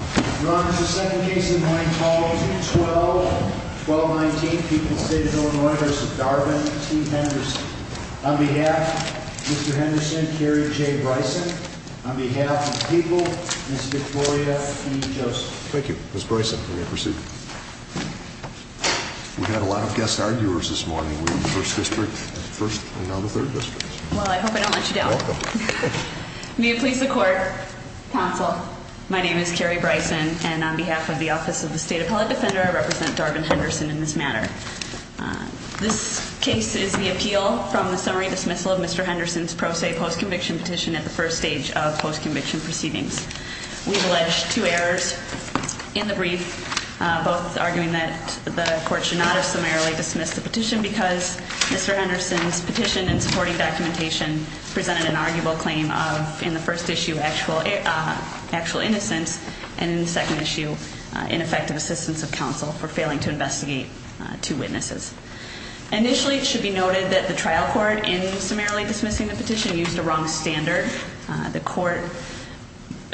Your Honor, the second case of the morning called 212-1219, People's State of Illinois v. Darvin T. Henderson. On behalf of Mr. Henderson, Carrie J. Bryson. On behalf of People, Ms. Victoria E. Joseph. Thank you, Ms. Bryson. We're going to proceed. We had a lot of guest arguers this morning. We had the 1st District, 1st, and now the 3rd District. Well, I hope I don't let you down. You're welcome. May it please the Court, Counsel. My name is Carrie Bryson, and on behalf of the Office of the State Appellate Defender, I represent Darvin Henderson in this matter. This case is the appeal from the summary dismissal of Mr. Henderson's pro se post-conviction petition at the first stage of post-conviction proceedings. We've alleged two errors in the brief, both arguing that the Court should not have summarily dismissed the petition because Mr. Henderson's petition in supporting documentation presented an arguable claim of, in the 1st issue, actual innocence, and in the 2nd issue, ineffective assistance of counsel for failing to investigate two witnesses. Initially, it should be noted that the trial court, in summarily dismissing the petition, used a wrong standard. The Court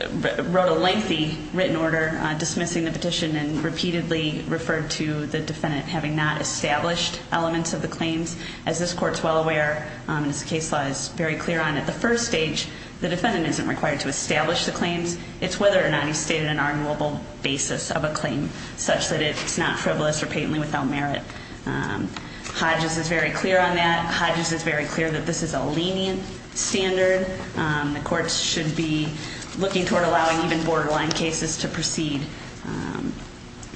wrote a lengthy written order dismissing the petition and repeatedly referred to the defendant having not established elements of the claims. As this Court is well aware, and as the case law is very clear on, at the first stage, the defendant isn't required to establish the claims. It's whether or not he's stated an arguable basis of a claim, such that it's not frivolous or patently without merit. Hodges is very clear on that. Hodges is very clear that this is a lenient standard. The Court should be looking toward allowing even borderline cases to proceed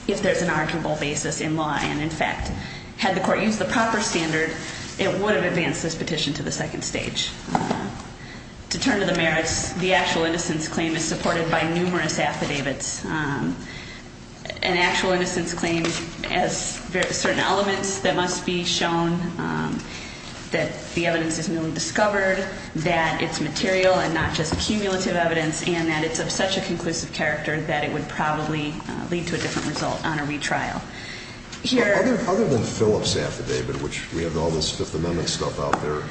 if there's an arguable basis in law, and in fact, had the Court used the proper standard, it would have advanced this petition to the 2nd stage. To turn to the merits, the actual innocence claim is supported by numerous affidavits. An actual innocence claim has certain elements that must be shown, that the evidence is newly discovered, that it's material and not just cumulative evidence, and that it's of such a conclusive character that it would probably lead to a different result on a retrial. Other than Phillip's affidavit, which we have all this Fifth Amendment stuff out there,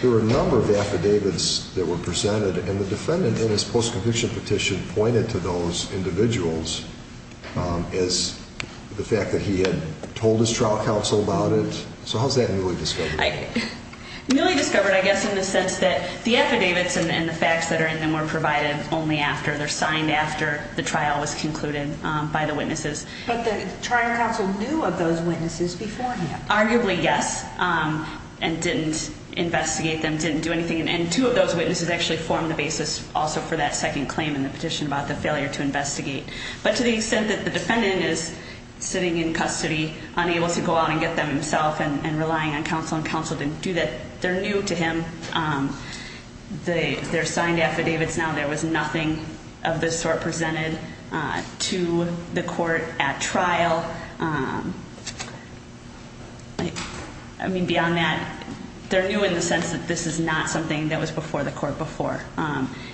there were a number of affidavits that were presented, and the defendant in his post-conviction petition pointed to those individuals as the fact that he had told his trial counsel about it. So how's that newly discovered? Newly discovered, I guess, in the sense that the affidavits and the facts that are in them were provided only after, they're signed after the trial was concluded by the witnesses. But the trial counsel knew of those witnesses beforehand? Arguably, yes, and didn't investigate them, didn't do anything. And two of those witnesses actually formed the basis also for that second claim in the petition about the failure to investigate. But to the extent that the defendant is sitting in custody, unable to go out and get them himself, and relying on counsel and counsel didn't do that, they're new to him. They're signed affidavits now. There was nothing of this sort presented to the court at trial. I mean, beyond that, they're new in the sense that this is not something that was before the court before.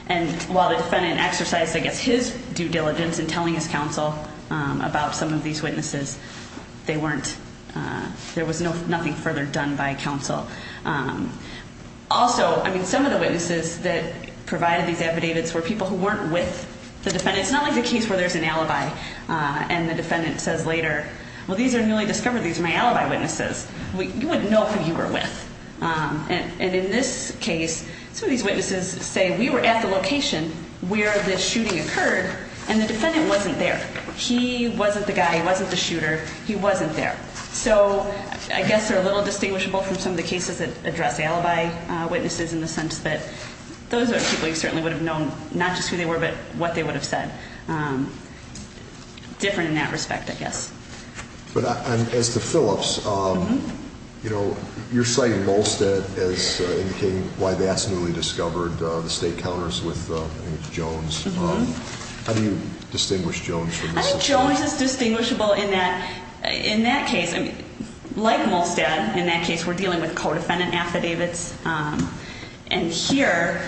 And while the defendant exercised, I guess, his due diligence in telling his counsel about some of these witnesses, there was nothing further done by counsel. Also, I mean, some of the witnesses that provided these affidavits were people who weren't with the defendant. It's not like the case where there's an alibi and the defendant says later, well, these are newly discovered, these are my alibi witnesses. You wouldn't know who you were with. And in this case, some of these witnesses say we were at the location where the shooting occurred, and the defendant wasn't there. He wasn't the guy, he wasn't the shooter, he wasn't there. So I guess they're a little distinguishable from some of the cases that address alibi witnesses in the sense that those are people you certainly would have known not just who they were, but what they would have said. Different in that respect, I guess. But as to Phillips, you know, you're citing Volstead as indicating why that's newly discovered. The state counters with Jones. How do you distinguish Jones from this? Jones is distinguishable in that case. Like Volstead, in that case we're dealing with co-defendant affidavits. And here,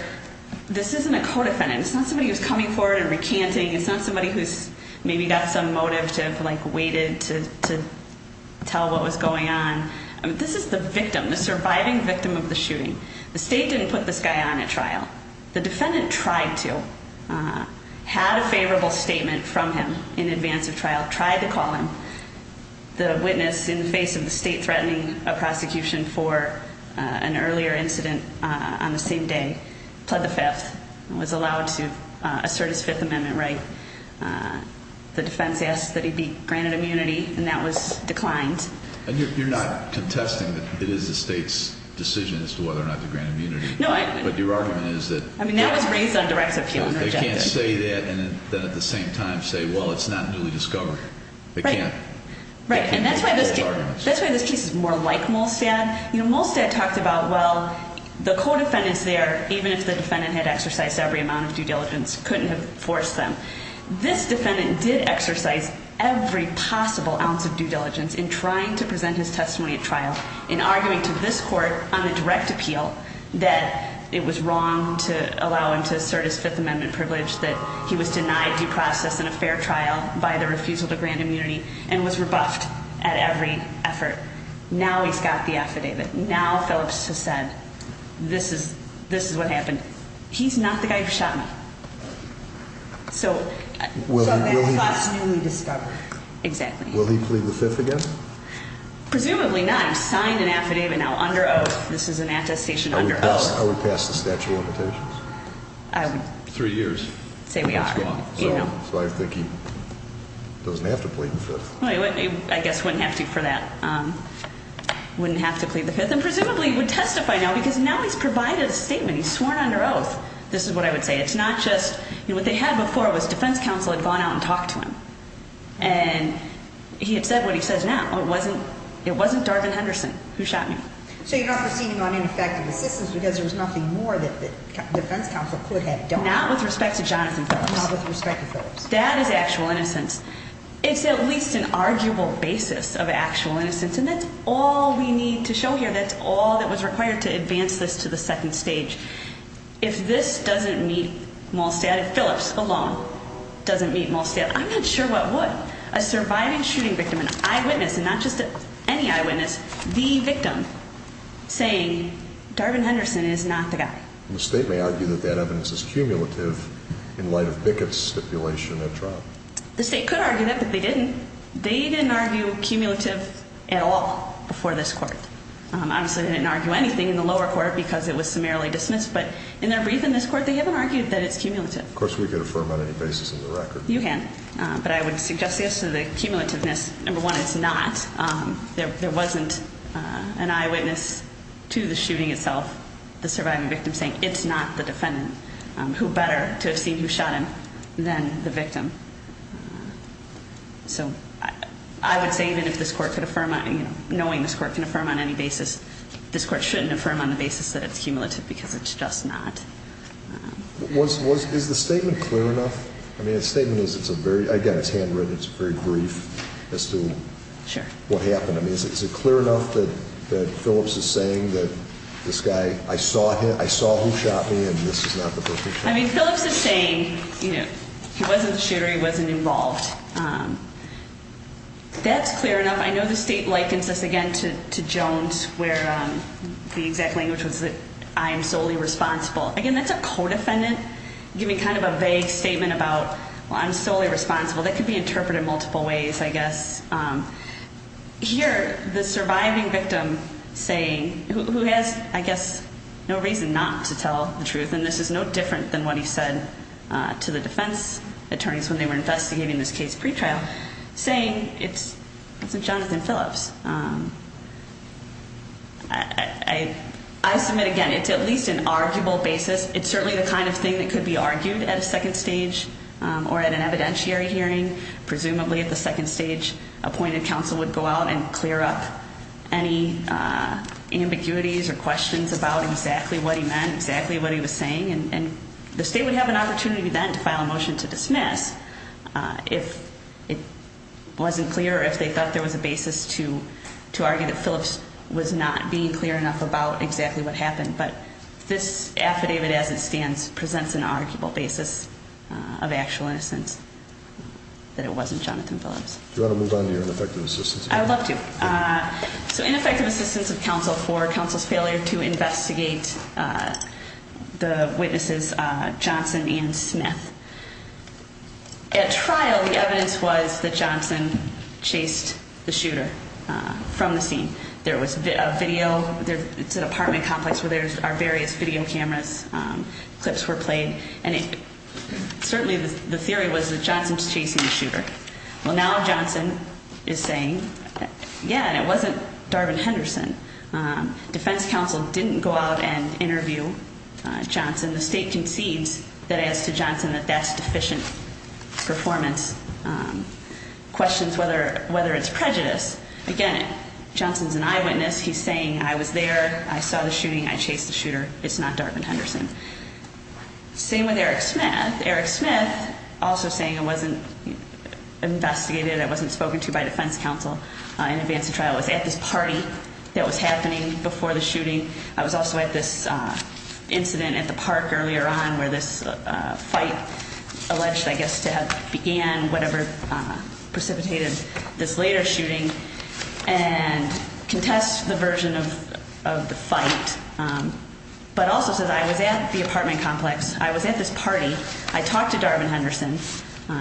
this isn't a co-defendant. It's not somebody who's coming forward and recanting. It's not somebody who's maybe got some motive to have waited to tell what was going on. This is the victim, the surviving victim of the shooting. The state didn't put this guy on at trial. The defendant tried to. Had a favorable statement from him in advance of trial. Tried to call him. The witness, in the face of the state threatening a prosecution for an earlier incident on the same day, pled the fifth and was allowed to assert his Fifth Amendment right. The defense asked that he be granted immunity, and that was declined. And you're not contesting that it is the state's decision as to whether or not to grant immunity. But your argument is that they can't say that and then at the same time say, well, it's not newly discovered. They can't. Right. And that's why this case is more like Molstad. Molstad talked about, well, the co-defendants there, even if the defendant had exercised every amount of due diligence, couldn't have forced them. This defendant did exercise every possible ounce of due diligence in trying to present his testimony at trial, in arguing to this court on a direct appeal that it was wrong to allow him to assert his Fifth Amendment privilege, that he was denied due process in a fair trial by the refusal to grant immunity and was rebuffed at every effort. Now he's got the affidavit. Now Phillips has said, this is what happened. He's not the guy who shot me. So that's not newly discovered. Exactly. Will he plead the Fifth again? Presumably not. He's signed an affidavit now under oath. This is an attestation under oath. I would pass the statute of limitations. Three years. Say we are. So I think he doesn't have to plead the Fifth. I guess wouldn't have to for that. Wouldn't have to plead the Fifth and presumably would testify now because now he's provided a statement. He's sworn under oath. This is what I would say. It's not just, you know, what they had before was defense counsel had gone out and talked to him. And he had said what he says now. It wasn't Darvin Henderson who shot me. So you're not proceeding on ineffective assistance because there was nothing more that the defense counsel could have done? Not with respect to Jonathan Phillips. Not with respect to Phillips. That is actual innocence. It's at least an arguable basis of actual innocence. And that's all we need to show here. That's all that was required to advance this to the second stage. If this doesn't meet Molstad, if Phillips alone doesn't meet Molstad, I'm not sure what would. A surviving shooting victim, an eyewitness, and not just any eyewitness, the victim, saying Darvin Henderson is not the guy. The state may argue that that evidence is cumulative in light of Bickett's stipulation at trial. The state could argue that, but they didn't. They didn't argue cumulative at all before this court. Obviously, they didn't argue anything in the lower court because it was summarily dismissed. But in their brief in this court, they haven't argued that it's cumulative. Of course, we could affirm on any basis of the record. You can. But I would suggest this. The cumulativeness, number one, it's not. There wasn't an eyewitness to the shooting itself, the surviving victim, saying it's not the defendant. Who better to have seen who shot him than the victim? So I would say even if this court could affirm, knowing this court can affirm on any basis, this court shouldn't affirm on the basis that it's cumulative because it's just not. Is the statement clear enough? I mean, the statement is it's a very ‑‑ I got his hand written. It's very brief as to what happened. I mean, is it clear enough that Phillips is saying that this guy, I saw him. I saw who shot me, and this is not the person. I mean, Phillips is saying, you know, he wasn't the shooter. He wasn't involved. That's clear enough. I know the state likens this, again, to Jones where the exact language was that I am solely responsible. Again, that's a codefendant giving kind of a vague statement about, well, I'm solely responsible. That could be interpreted multiple ways, I guess. Here, the surviving victim saying, who has, I guess, no reason not to tell the truth, and this is no different than what he said to the defense attorneys when they were investigating this case pretrial, saying it's Jonathan Phillips. I submit, again, it's at least an arguable basis. It's certainly the kind of thing that could be argued at a second stage or at an evidentiary hearing, presumably at the second stage appointed counsel would go out and clear up any ambiguities or questions about exactly what he meant, exactly what he was saying, and the state would have an opportunity then to file a motion to dismiss if it wasn't clear or if they thought there was a basis to argue that Phillips was not being clear enough about exactly what happened. But this affidavit as it stands presents an arguable basis of actual innocence that it wasn't Jonathan Phillips. Do you want to move on to your ineffective assistance? I would love to. So ineffective assistance of counsel for counsel's failure to investigate the witnesses Johnson and Smith. At trial, the evidence was that Johnson chased the shooter from the scene. There was a video, it's an apartment complex where there are various video cameras, clips were played, and certainly the theory was that Johnson's chasing the shooter. Well, now Johnson is saying, yeah, and it wasn't Darvin Henderson. Defense counsel didn't go out and interview Johnson. The state concedes that as to Johnson that that's deficient performance, questions whether it's prejudice. Again, Johnson's an eyewitness. He's saying I was there, I saw the shooting, I chased the shooter. It's not Darvin Henderson. Same with Eric Smith. Eric Smith also saying I wasn't investigated, I wasn't spoken to by defense counsel in advance of trial. I was at this party that was happening before the shooting. I was also at this incident at the park earlier on where this fight alleged, I guess, to have began whatever precipitated this later shooting and contests the version of the fight, but also says I was at the apartment complex. I was at this party. I talked to Darvin Henderson.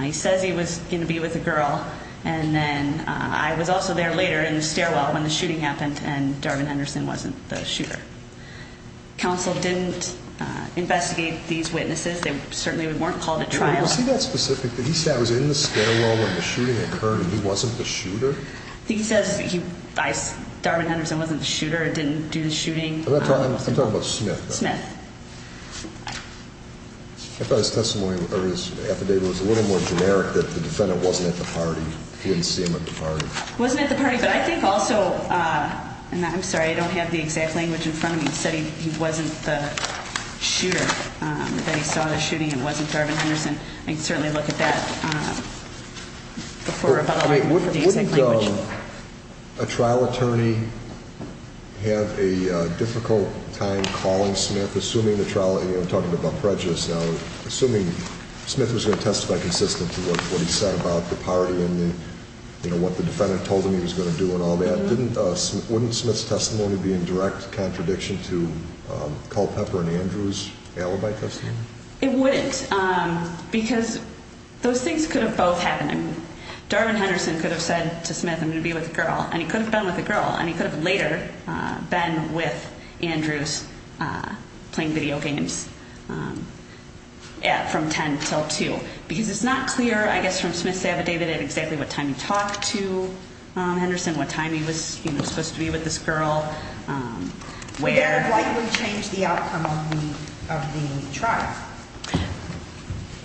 He says he was going to be with a girl. I was also there later in the stairwell when the shooting happened and Darvin Henderson wasn't the shooter. Counsel didn't investigate these witnesses. They certainly weren't called at trial. Is he that specific that he said I was in the stairwell when the shooting occurred and he wasn't the shooter? He says Darvin Henderson wasn't the shooter and didn't do the shooting. I'm talking about Smith. Smith. I thought his testimony or his affidavit was a little more generic that the defendant wasn't at the party. He didn't see him at the party. He wasn't at the party, but I think also, and I'm sorry, I don't have the exact language in front of me. He said he wasn't the shooter, that he saw the shooting and wasn't Darvin Henderson. I can certainly look at that before I find the exact language. A trial attorney have a difficult time calling Smith, assuming the trial, I'm talking about prejudice now, assuming Smith was going to testify consistently with what he said about the party and what the defendant told him he was going to do and all that. Wouldn't Smith's testimony be in direct contradiction to Culpepper and Andrew's alibi testimony? It wouldn't because those things could have both happened. Darvin Henderson could have said to Smith, I'm going to be with a girl, and he could have been with a girl, and he could have later been with Andrews playing video games from 10 till 2, because it's not clear, I guess, from Smith's affidavit at exactly what time he talked to Henderson, what time he was supposed to be with this girl. It would likely change the outcome of the trial.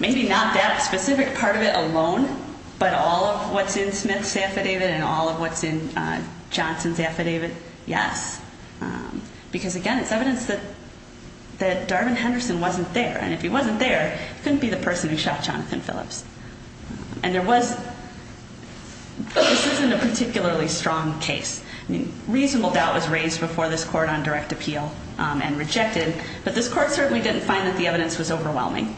Maybe not that specific part of it alone, but all of what's in Smith's affidavit and all of what's in Johnson's affidavit, yes. Because, again, it's evidence that Darvin Henderson wasn't there, and if he wasn't there, it couldn't be the person who shot Jonathan Phillips. And there was, this isn't a particularly strong case. I mean, reasonable doubt was raised before this court on direct appeal and rejected, but this court certainly didn't find that the evidence was overwhelming.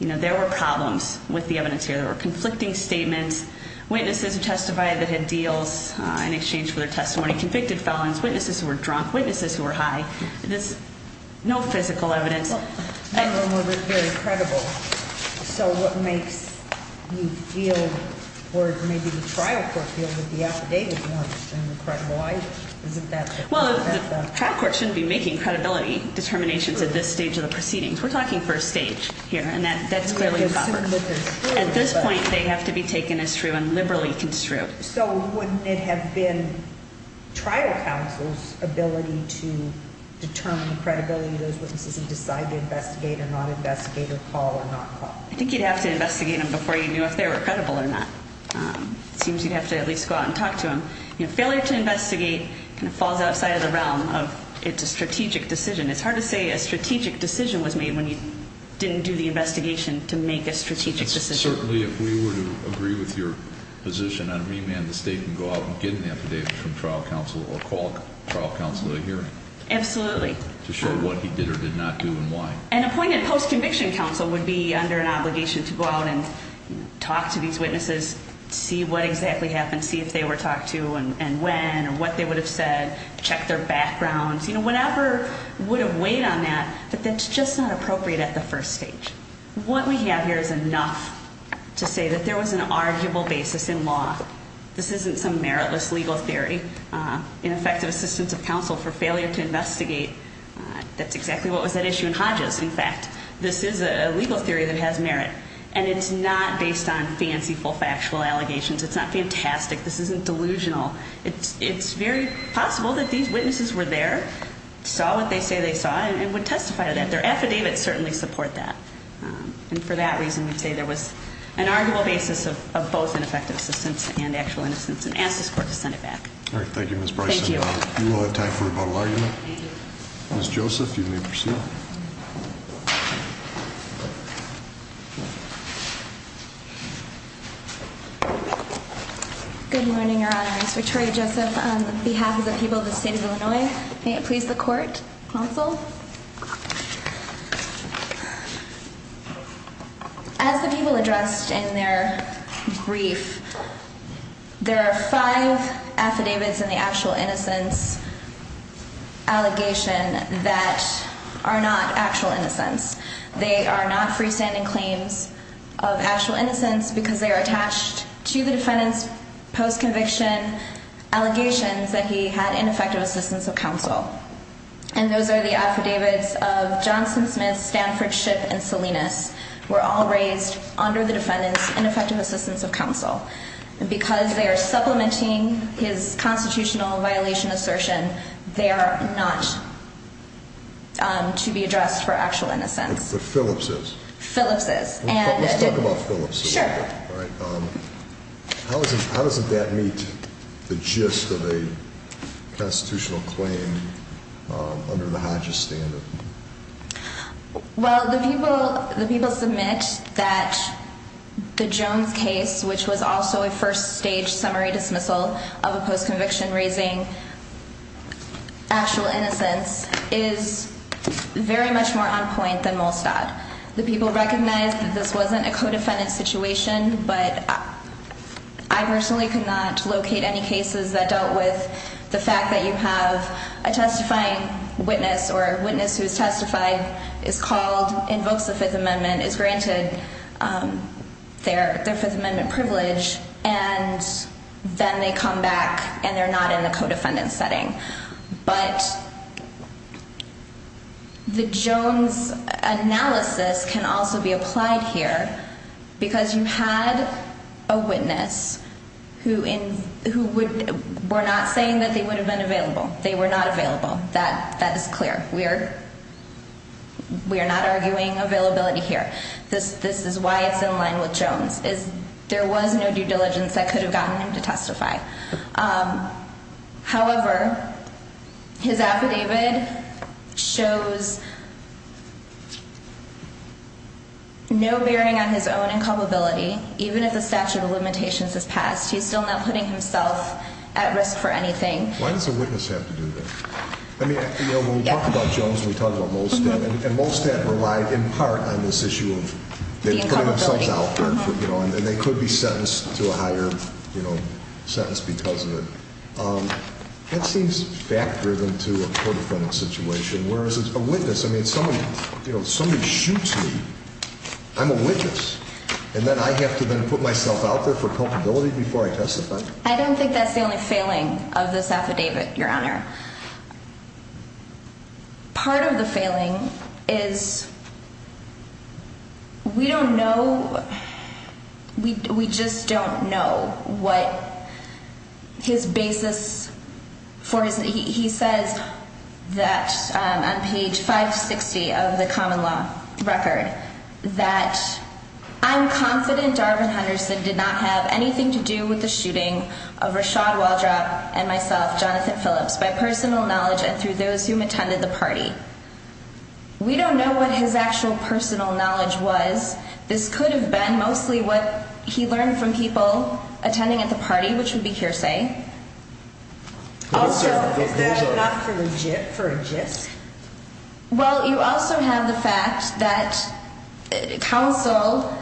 You know, there were problems with the evidence here. There were conflicting statements, witnesses who testified that had deals in exchange for their testimony, convicted felons, witnesses who were drunk, witnesses who were high. There's no physical evidence. None of them were very credible. So what makes you feel, or maybe the trial court feels, that the affidavit was not extremely credible? Well, the trial court shouldn't be making credibility determinations at this stage of the proceedings. We're talking first stage here, and that's clearly covered. At this point, they have to be taken as true and liberally construed. So wouldn't it have been trial counsel's ability to determine the credibility of those witnesses and decide to investigate or not investigate or call or not call? I think you'd have to investigate them before you knew if they were credible or not. It seems you'd have to at least go out and talk to them. You know, failure to investigate kind of falls outside of the realm of it's a strategic decision. It's hard to say a strategic decision was made when you didn't do the investigation to make a strategic decision. Certainly, if we were to agree with your position, I'd remand the state and go out and get an affidavit from trial counsel or call trial counsel at a hearing. Absolutely. To show what he did or did not do and why. An appointed post-conviction counsel would be under an obligation to go out and talk to these witnesses, see what exactly happened, see if they were talked to and when or what they would have said, check their backgrounds, you know, whatever would have weighed on that. But that's just not appropriate at the first stage. What we have here is enough to say that there was an arguable basis in law. This isn't some meritless legal theory. In effect, assistance of counsel for failure to investigate. That's exactly what was at issue in Hodges. In fact, this is a legal theory that has merit. And it's not based on fancy, full factual allegations. It's not fantastic. This isn't delusional. It's very possible that these witnesses were there, saw what they say they saw, and would testify to that. Their affidavits certainly support that. And for that reason, we'd say there was an arguable basis of both ineffective assistance and actual innocence and ask this court to send it back. All right. Thank you, Ms. Bryson. Thank you. You will have time for a rebuttal argument. Thank you. Ms. Joseph, you may proceed. Good morning, Your Honor. It's Victoria Joseph on behalf of the people of the state of Illinois. May it please the court, counsel. As the people addressed in their brief, there are five affidavits in the actual innocence allegation that are not actual innocence. They are not freestanding claims of actual innocence because they are attached to the defendant's post-conviction allegations that he had ineffective assistance of counsel. And those are the affidavits of Johnson, Smith, Stanford, Shipp, and Salinas were all raised under the defendant's ineffective assistance of counsel. And because they are supplementing his constitutional violation assertion, they are not to be addressed for actual innocence. But Phillips is. Phillips is. Let's talk about Phillips. Sure. All right. How does that meet the gist of a constitutional claim under the Hodges standard? Well, the people submit that the Jones case, which was also a first-stage summary dismissal of a post-conviction raising actual innocence, is very much more on point than Molstad. The people recognize that this wasn't a co-defendant situation, but I personally could not locate any cases that dealt with the fact that you have a testifying witness or a witness who is testified, is called, invokes the Fifth Amendment, is granted their Fifth Amendment privilege, and then they come back and they're not in the co-defendant setting. But the Jones analysis can also be applied here because you had a witness who were not saying that they would have been available. They were not available. That is clear. We are not arguing availability here. This is why it's in line with Jones, is there was no due diligence that could have gotten him to testify. However, his affidavit shows no bearing on his own inculpability, even if the statute of limitations has passed. He's still not putting himself at risk for anything. Why does a witness have to do that? I mean, when we talk about Jones, we talk about Molstad, and Molstad relied in part on this issue of putting themselves out there, and they could be sentenced to a higher sentence because of it. That seems fact-driven to a co-defendant situation, whereas a witness, I mean, somebody shoots me, I'm a witness, and then I have to then put myself out there for culpability before I testify? I don't think that's the only failing of this affidavit, Your Honor. Part of the failing is we don't know, we just don't know what his basis for his, he says that on page 560 of the common law record that I'm confident Darvin Henderson did not have anything to do with the shooting of Rashad Waldrop and myself, Jonathan Phillips, by police. By personal knowledge and through those who attended the party. We don't know what his actual personal knowledge was. This could have been mostly what he learned from people attending at the party, which would be hearsay. Also, is that not for a gist? Well, you also have the fact that counsel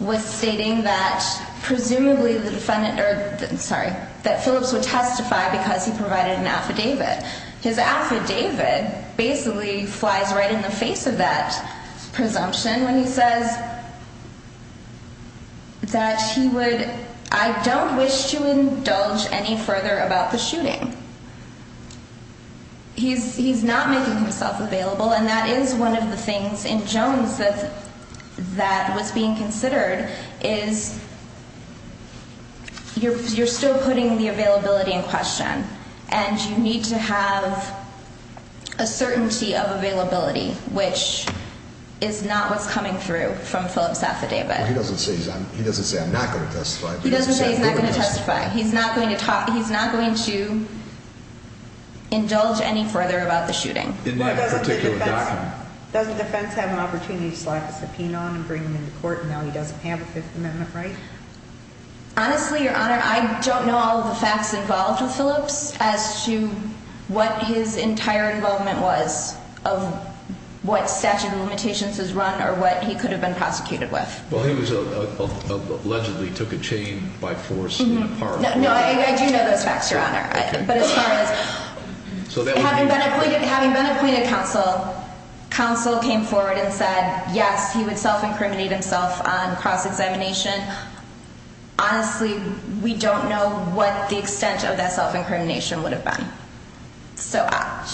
was stating that presumably the defendant, sorry, that Phillips would testify because he provided an affidavit. His affidavit basically flies right in the face of that presumption when he says that he would, I don't wish to indulge any further about the shooting. He's not making himself available, and that is one of the things in Jones that was being considered is you're still putting the availability in question. And you need to have a certainty of availability, which is not what's coming through from Phillips' affidavit. He doesn't say I'm not going to testify. He doesn't say he's not going to testify. He's not going to talk. He's not going to indulge any further about the shooting. In that particular document. Doesn't the defense have an opportunity to slap a subpoena on and bring him into court and now he doesn't have a Fifth Amendment right? Honestly, Your Honor, I don't know all of the facts involved with Phillips as to what his entire involvement was of what statute of limitations was run or what he could have been prosecuted with. Well, he was allegedly took a chain by force. No, I do know those facts, Your Honor. But as far as having been appointed counsel, counsel came forward and said, yes, he would self-incriminate himself on cross-examination. Honestly, we don't know what the extent of that self-incrimination would have been. So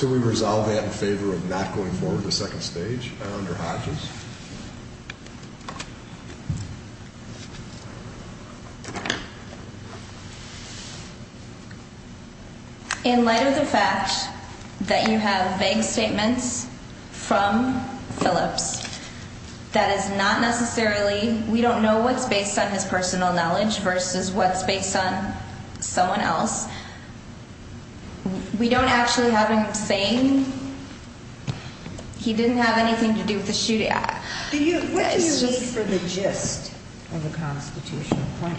we resolve that in favor of not going forward to the second stage under Hodges? In light of the fact that you have vague statements from Phillips, that is not necessarily we don't know what's based on his personal knowledge versus what's based on someone else. We don't actually have him saying he didn't have anything to do with the shooting act. What do you need for the gist of a constitutional point?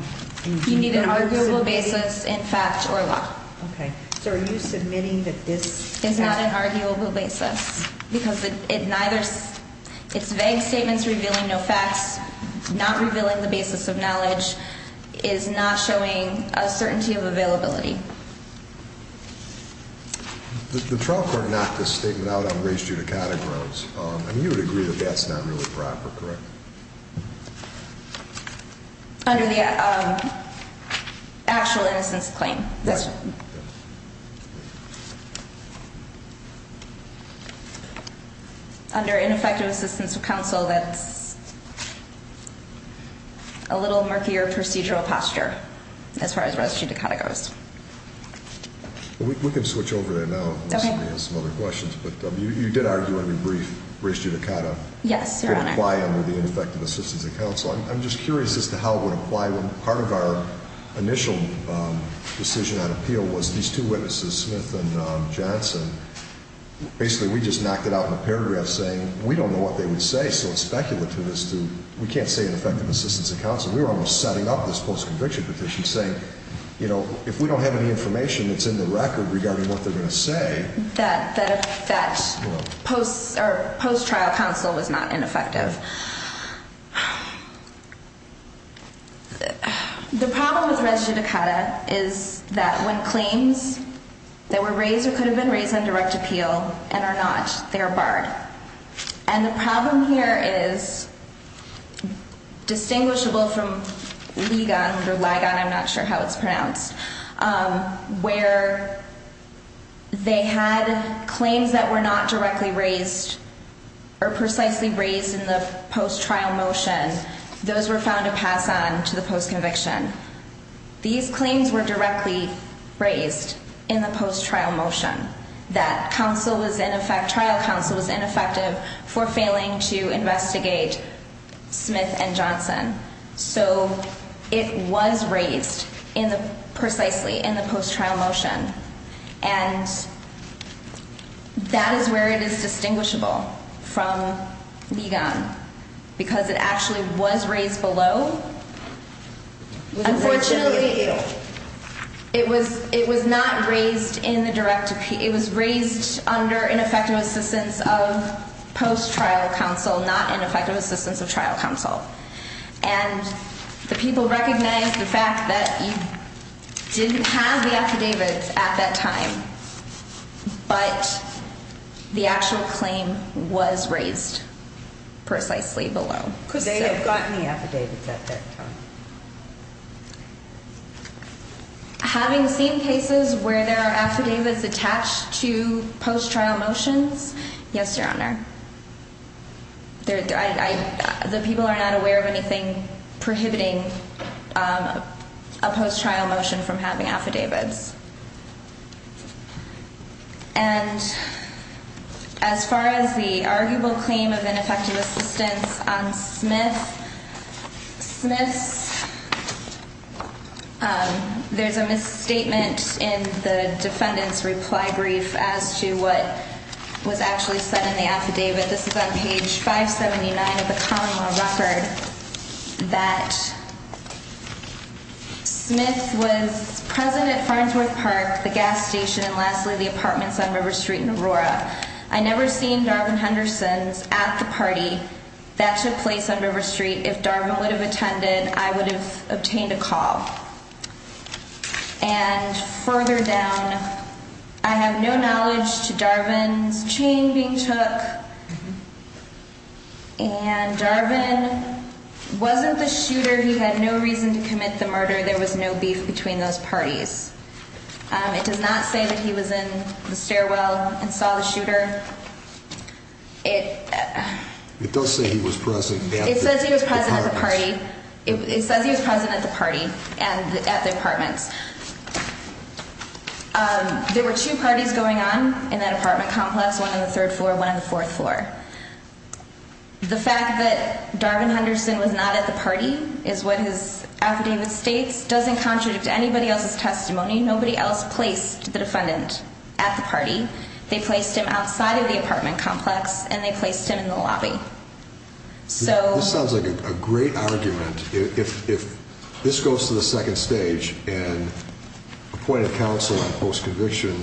You need an arguable basis in fact or law. Okay. So are you submitting that this is not an arguable basis? Because it's vague statements revealing no facts, not revealing the basis of knowledge is not showing a certainty of availability. The trial court knocked this statement out on race judicata grounds. I mean, you would agree that that's not really proper, correct? Under the actual innocence claim. Right. Under ineffective assistance of counsel, that's a little murkier procedural posture as far as race judicata goes. We can switch over there now unless you have some other questions. But you did argue under race judicata. Yes, Your Honor. It would apply under the ineffective assistance of counsel. I'm just curious as to how it would apply when part of our initial decision on appeal was these two witnesses, Smith and Johnson. Basically, we just knocked it out in a paragraph saying we don't know what they would say. So it's speculative as to we can't say ineffective assistance of counsel. We were almost setting up this post-conviction petition saying, you know, if we don't have any information that's in the record regarding what they're going to say. That post-trial counsel was not ineffective. The problem with race judicata is that when claims that were raised or could have been raised on direct appeal and are not, they are barred. And the problem here is distinguishable from LIGON, or LIGON, I'm not sure how it's pronounced, where they had claims that were not directly raised or precisely raised in the first instance. In the post-trial motion, those were found to pass on to the post-conviction. These claims were directly raised in the post-trial motion that trial counsel was ineffective for failing to investigate Smith and Johnson. So it was raised precisely in the post-trial motion. And that is where it is distinguishable from LIGON because it actually was raised below. Unfortunately, it was not raised in the direct appeal. It was raised under ineffective assistance of post-trial counsel, not ineffective assistance of trial counsel. And the people recognize the fact that you didn't have the affidavits at that time, but the actual claim was raised precisely below. Could they have gotten the affidavits at that time? Having seen cases where there are affidavits attached to post-trial motions, yes, Your Honor. The people are not aware of anything prohibiting a post-trial motion from having affidavits. And as far as the arguable claim of ineffective assistance on Smith, there's a misstatement in the defendant's reply brief as to what was actually said in the affidavit. This is on page 579 of the common law record that Smith was present at Farnsworth Park, the gas station, and lastly, the apartments on River Street and Aurora. I never seen Darvin Hendersons at the party that took place on River Street. If Darvin would have attended, I would have obtained a call. And further down, I have no knowledge to Darvin's chain being took, and Darvin wasn't the shooter. He had no reason to commit the murder. There was no beef between those parties. It does not say that he was in the stairwell and saw the shooter. It does say he was present at the party. It says he was present at the party and at the apartments. There were two parties going on in that apartment complex, one on the third floor, one on the fourth floor. The fact that Darvin Henderson was not at the party is what his affidavit states, doesn't contradict anybody else's testimony. Nobody else placed the defendant at the party. They placed him outside of the apartment complex, and they placed him in the lobby. This sounds like a great argument. If this goes to the second stage, and appointed counsel on post-conviction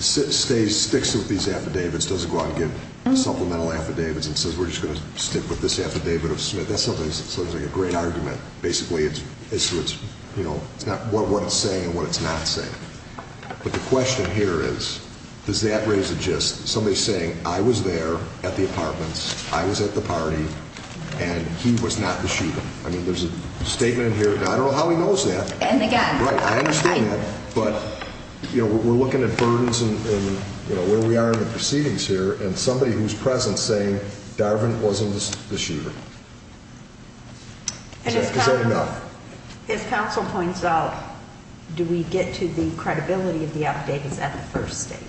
sticks with these affidavits, doesn't go out and get supplemental affidavits and says, we're just going to stick with this affidavit of Smith. That sounds like a great argument. Basically, it's what it's saying and what it's not saying. It's somebody saying, I was there at the apartments, I was at the party, and he was not the shooter. There's a statement in here, and I don't know how he knows that. I understand that, but we're looking at burdens and where we are in the proceedings here, and somebody who's present saying, Darvin wasn't the shooter. If counsel points out, do we get to the credibility of the affidavits at the first stage?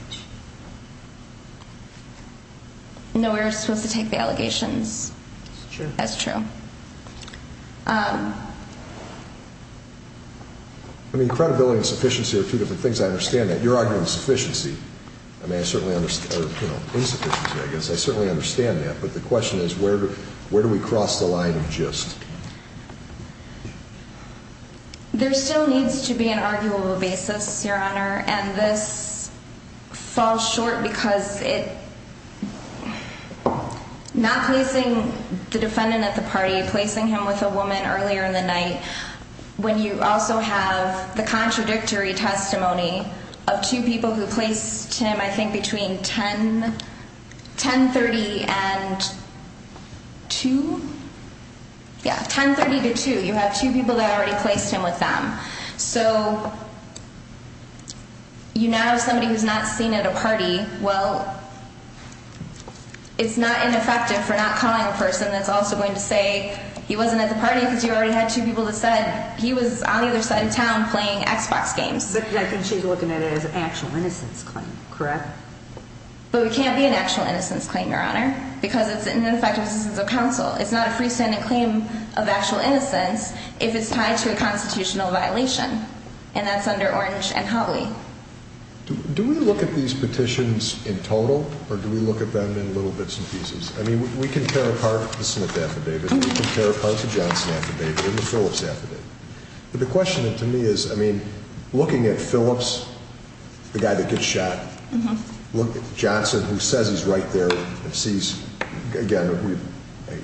No, we're supposed to take the allegations. That's true. Credibility and sufficiency are two different things. I understand that. You're arguing sufficiency. Insufficiency, I guess. I certainly understand that. But the question is, where do we cross the line of gist? There still needs to be an arguable basis, Your Honor. And this falls short because not placing the defendant at the party, placing him with a woman earlier in the night, when you also have the contradictory testimony of two people who placed him, I think, between 10.30 and 2? Yeah, 10.30 to 2. You have two people that already placed him with them. So you now have somebody who's not seen at a party. Well, it's not ineffective for not calling a person that's also going to say he wasn't at the party because you already had two people that said he was on the other side of town playing Xbox games. I think she's looking at it as an actual innocence claim, correct? But it can't be an actual innocence claim, Your Honor, because it's an ineffective assistance of counsel. It's not a freestanding claim of actual innocence if it's tied to a constitutional violation. And that's under Orange and Hawley. Do we look at these petitions in total or do we look at them in little bits and pieces? I mean, we can tear apart the Smith affidavit and we can tear apart the Johnson affidavit and the Phillips affidavit. But the question to me is, I mean, looking at Phillips, the guy that gets shot, Johnson, who says he's right there and sees, again,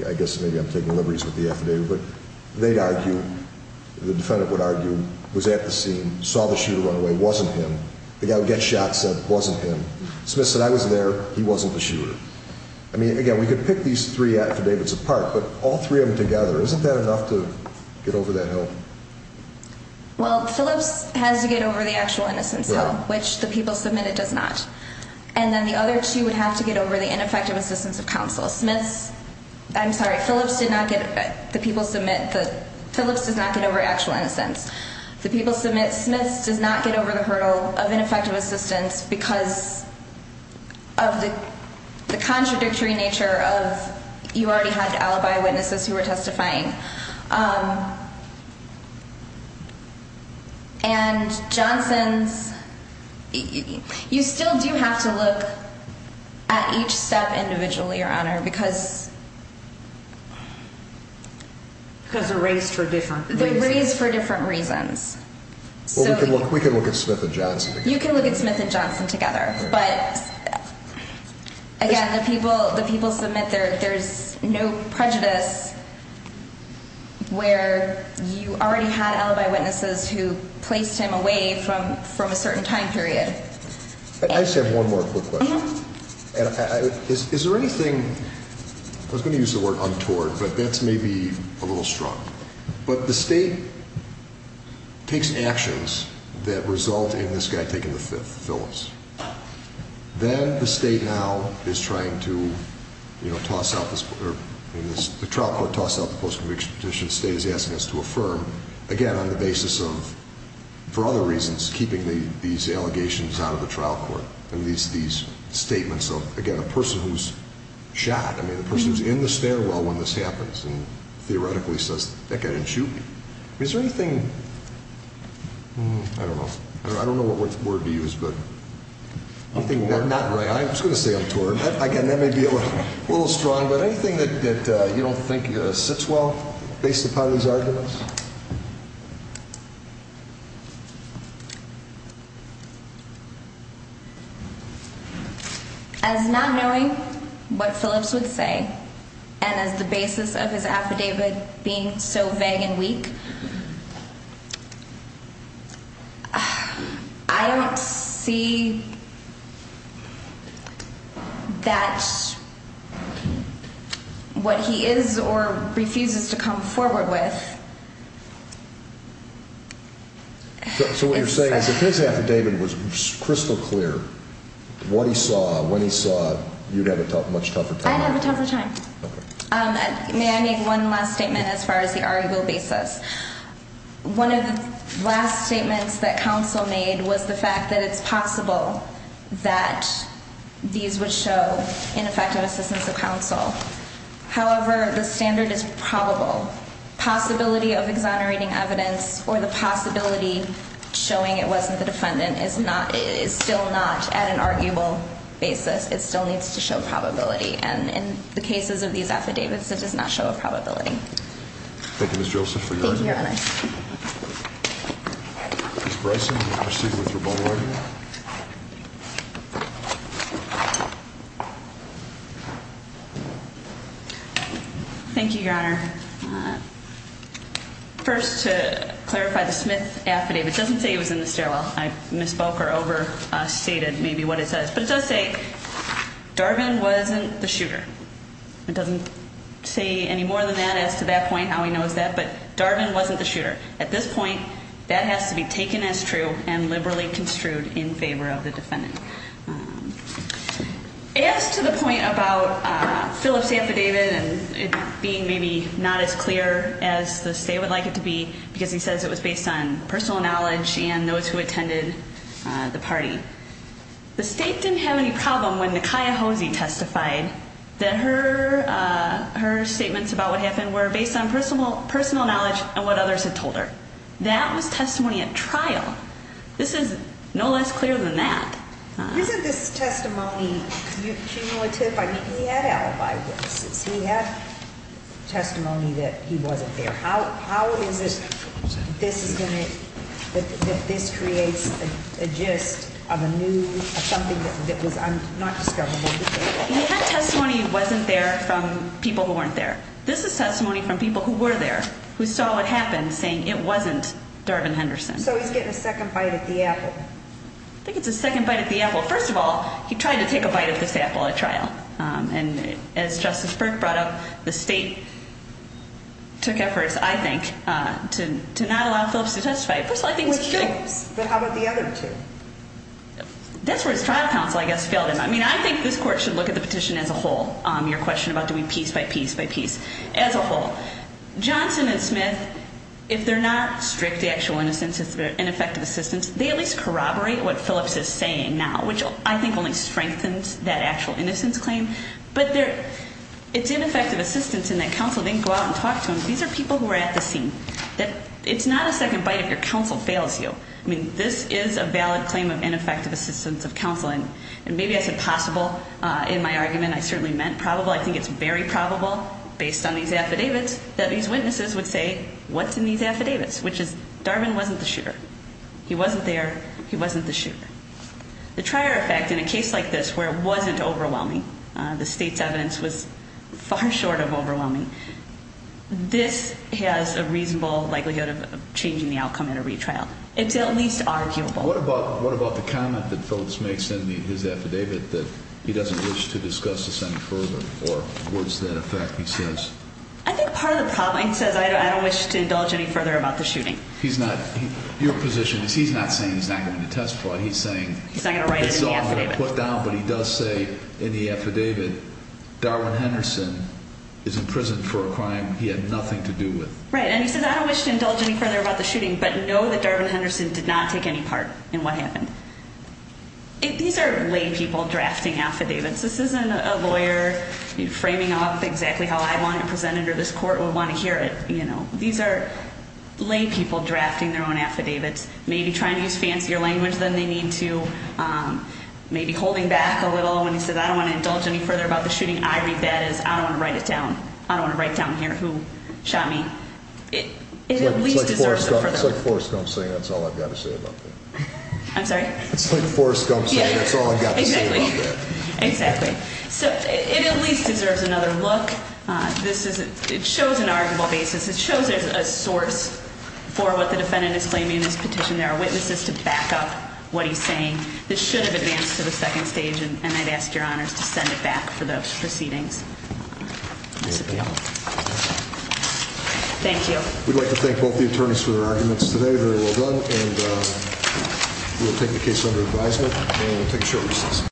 I guess maybe I'm taking liberties with the affidavit, but they'd argue, the defendant would argue, was at the scene, saw the shooter run away, wasn't him. The guy who gets shot said it wasn't him. Smith said, I was there. He wasn't the shooter. I mean, again, we could pick these three affidavits apart, but all three of them together, isn't that enough to get over that hill? Well, Phillips has to get over the actual innocence hill, which the people submitted does not. And then the other two would have to get over the ineffective assistance of counsel. Smith's, I'm sorry, Phillips did not get, the people submit, Phillips does not get over actual innocence. The people submit Smith's does not get over the hurdle of ineffective assistance because of the contradictory nature of, you already had alibi witnesses who were testifying. And Johnson's, you still do have to look at each step individually, Your Honor, because. Because they're raised for different reasons. They're raised for different reasons. We can look at Smith and Johnson. You can look at Smith and Johnson together. But again, the people, the people submit there, there's no prejudice where you already had alibi witnesses who placed him away from, from a certain time period. I just have one more quick question. Is there anything, I was going to use the word untoward, but that's maybe a little strong. But the state takes actions that result in this guy taking the fifth, Phillips. Then the state now is trying to, you know, toss out this, the trial court tossed out the post-conviction petition. The state is asking us to affirm, again, on the basis of, for other reasons, keeping these allegations out of the trial court. And these, these statements of, again, a person who's shot. I mean, the person who's in the stairwell when this happens and theoretically says, that guy didn't shoot me. Is there anything, I don't know, I don't know what word to use. But I think we're not right. I was going to say untoward. Again, that may be a little strong, but anything that you don't think sits well based upon these arguments. As not knowing what Phillips would say and as the basis of his affidavit being so vague and weak. I don't see that what he is or refuses to come forward with. So what you're saying is if his affidavit was crystal clear, what he saw, when he saw, you'd have a much tougher time? I'd have a tougher time. May I make one last statement as far as the arguable basis? One of the last statements that counsel made was the fact that it's possible that these would show ineffective assistance of counsel. However, the standard is probable. Possibility of exonerating evidence or the possibility showing it wasn't the defendant is not, is still not at an arguable basis. It still needs to show probability. And in the cases of these affidavits, it does not show a probability. Thank you, Ms. Joseph, for your argument. Thank you, Your Honor. Ms. Bryson, you can proceed with your ballroom argument. Thank you, Your Honor. First, to clarify, the Smith affidavit doesn't say he was in the stairwell. I misspoke or overstated maybe what it says. But it does say, Darvin wasn't the shooter. It doesn't say any more than that as to that point, how he knows that. But Darvin wasn't the shooter. At this point, that has to be taken as true and liberally construed in favor of the defendant. As to the point about Phillip's affidavit and it being maybe not as clear as the state would like it to be, because he says it was based on personal knowledge and those who attended the party. The state didn't have any problem when Nakaya Hosey testified that her statements about what happened were based on personal knowledge and what others had told her. That was testimony at trial. This is no less clear than that. Isn't this testimony cumulative? I mean, he had alibi witnesses. He had testimony that he wasn't there. How is it that this creates a gist of a new, of something that was not discoverable before? That testimony wasn't there from people who weren't there. This is testimony from people who were there, who saw what happened, saying it wasn't Darvin Henderson. So he's getting a second bite at the apple. I think it's a second bite at the apple. First of all, he tried to take a bite at this apple at trial. And as Justice Burke brought up, the state took efforts, I think, to not allow Phillips to testify. Which helps, but how about the other two? That's where his trial counsel, I guess, failed him. I mean, I think this court should look at the petition as a whole, your question about doing piece by piece by piece, as a whole. Johnson and Smith, if they're not strict, the actual innocence, ineffective assistance, they at least corroborate what Phillips is saying now, which I think only strengthens that actual innocence claim. But it's ineffective assistance in that counsel didn't go out and talk to him. These are people who are at the scene. It's not a second bite if your counsel fails you. I mean, this is a valid claim of ineffective assistance of counsel. And maybe I said possible in my argument. I certainly meant probable. I think it's very probable, based on these affidavits, that these witnesses would say, what's in these affidavits? Which is, Darvin wasn't the shooter. He wasn't there. He wasn't the shooter. The trier effect in a case like this, where it wasn't overwhelming, the state's evidence was far short of overwhelming, this has a reasonable likelihood of changing the outcome in a retrial. It's at least arguable. What about the comment that Phillips makes in his affidavit, that he doesn't wish to discuss this any further, or words to that effect, he says? I think part of the problem, he says, I don't wish to indulge any further about the shooting. Your position is, he's not saying he's not going to testify. He's not going to write it in the affidavit. But he does say, in the affidavit, Darvin Henderson is in prison for a crime he had nothing to do with. Right, and he says, I don't wish to indulge any further about the shooting, but know that Darvin Henderson did not take any part in what happened. These are lay people drafting affidavits. This isn't a lawyer framing off exactly how I want it presented, or this court would want to hear it. These are lay people drafting their own affidavits, maybe trying to use fancier language than they need to, maybe holding back a little when he says, I don't want to indulge any further about the shooting. I read that as, I don't want to write it down. I don't want to write down here who shot me. It at least deserves a further look. It's like Forrest Gump saying, that's all I've got to say about that. I'm sorry? It's like Forrest Gump saying, that's all I've got to say about that. Exactly. It at least deserves another look. It shows an arguable basis. It shows there's a source for what the defendant is claiming in this petition. There are witnesses to back up what he's saying. This should have advanced to the second stage, and I'd ask your honors to send it back for those proceedings. Thank you. We'd like to thank both the attorneys for their arguments today. Very well done. And we'll take the case under advisement, and we'll take short recess.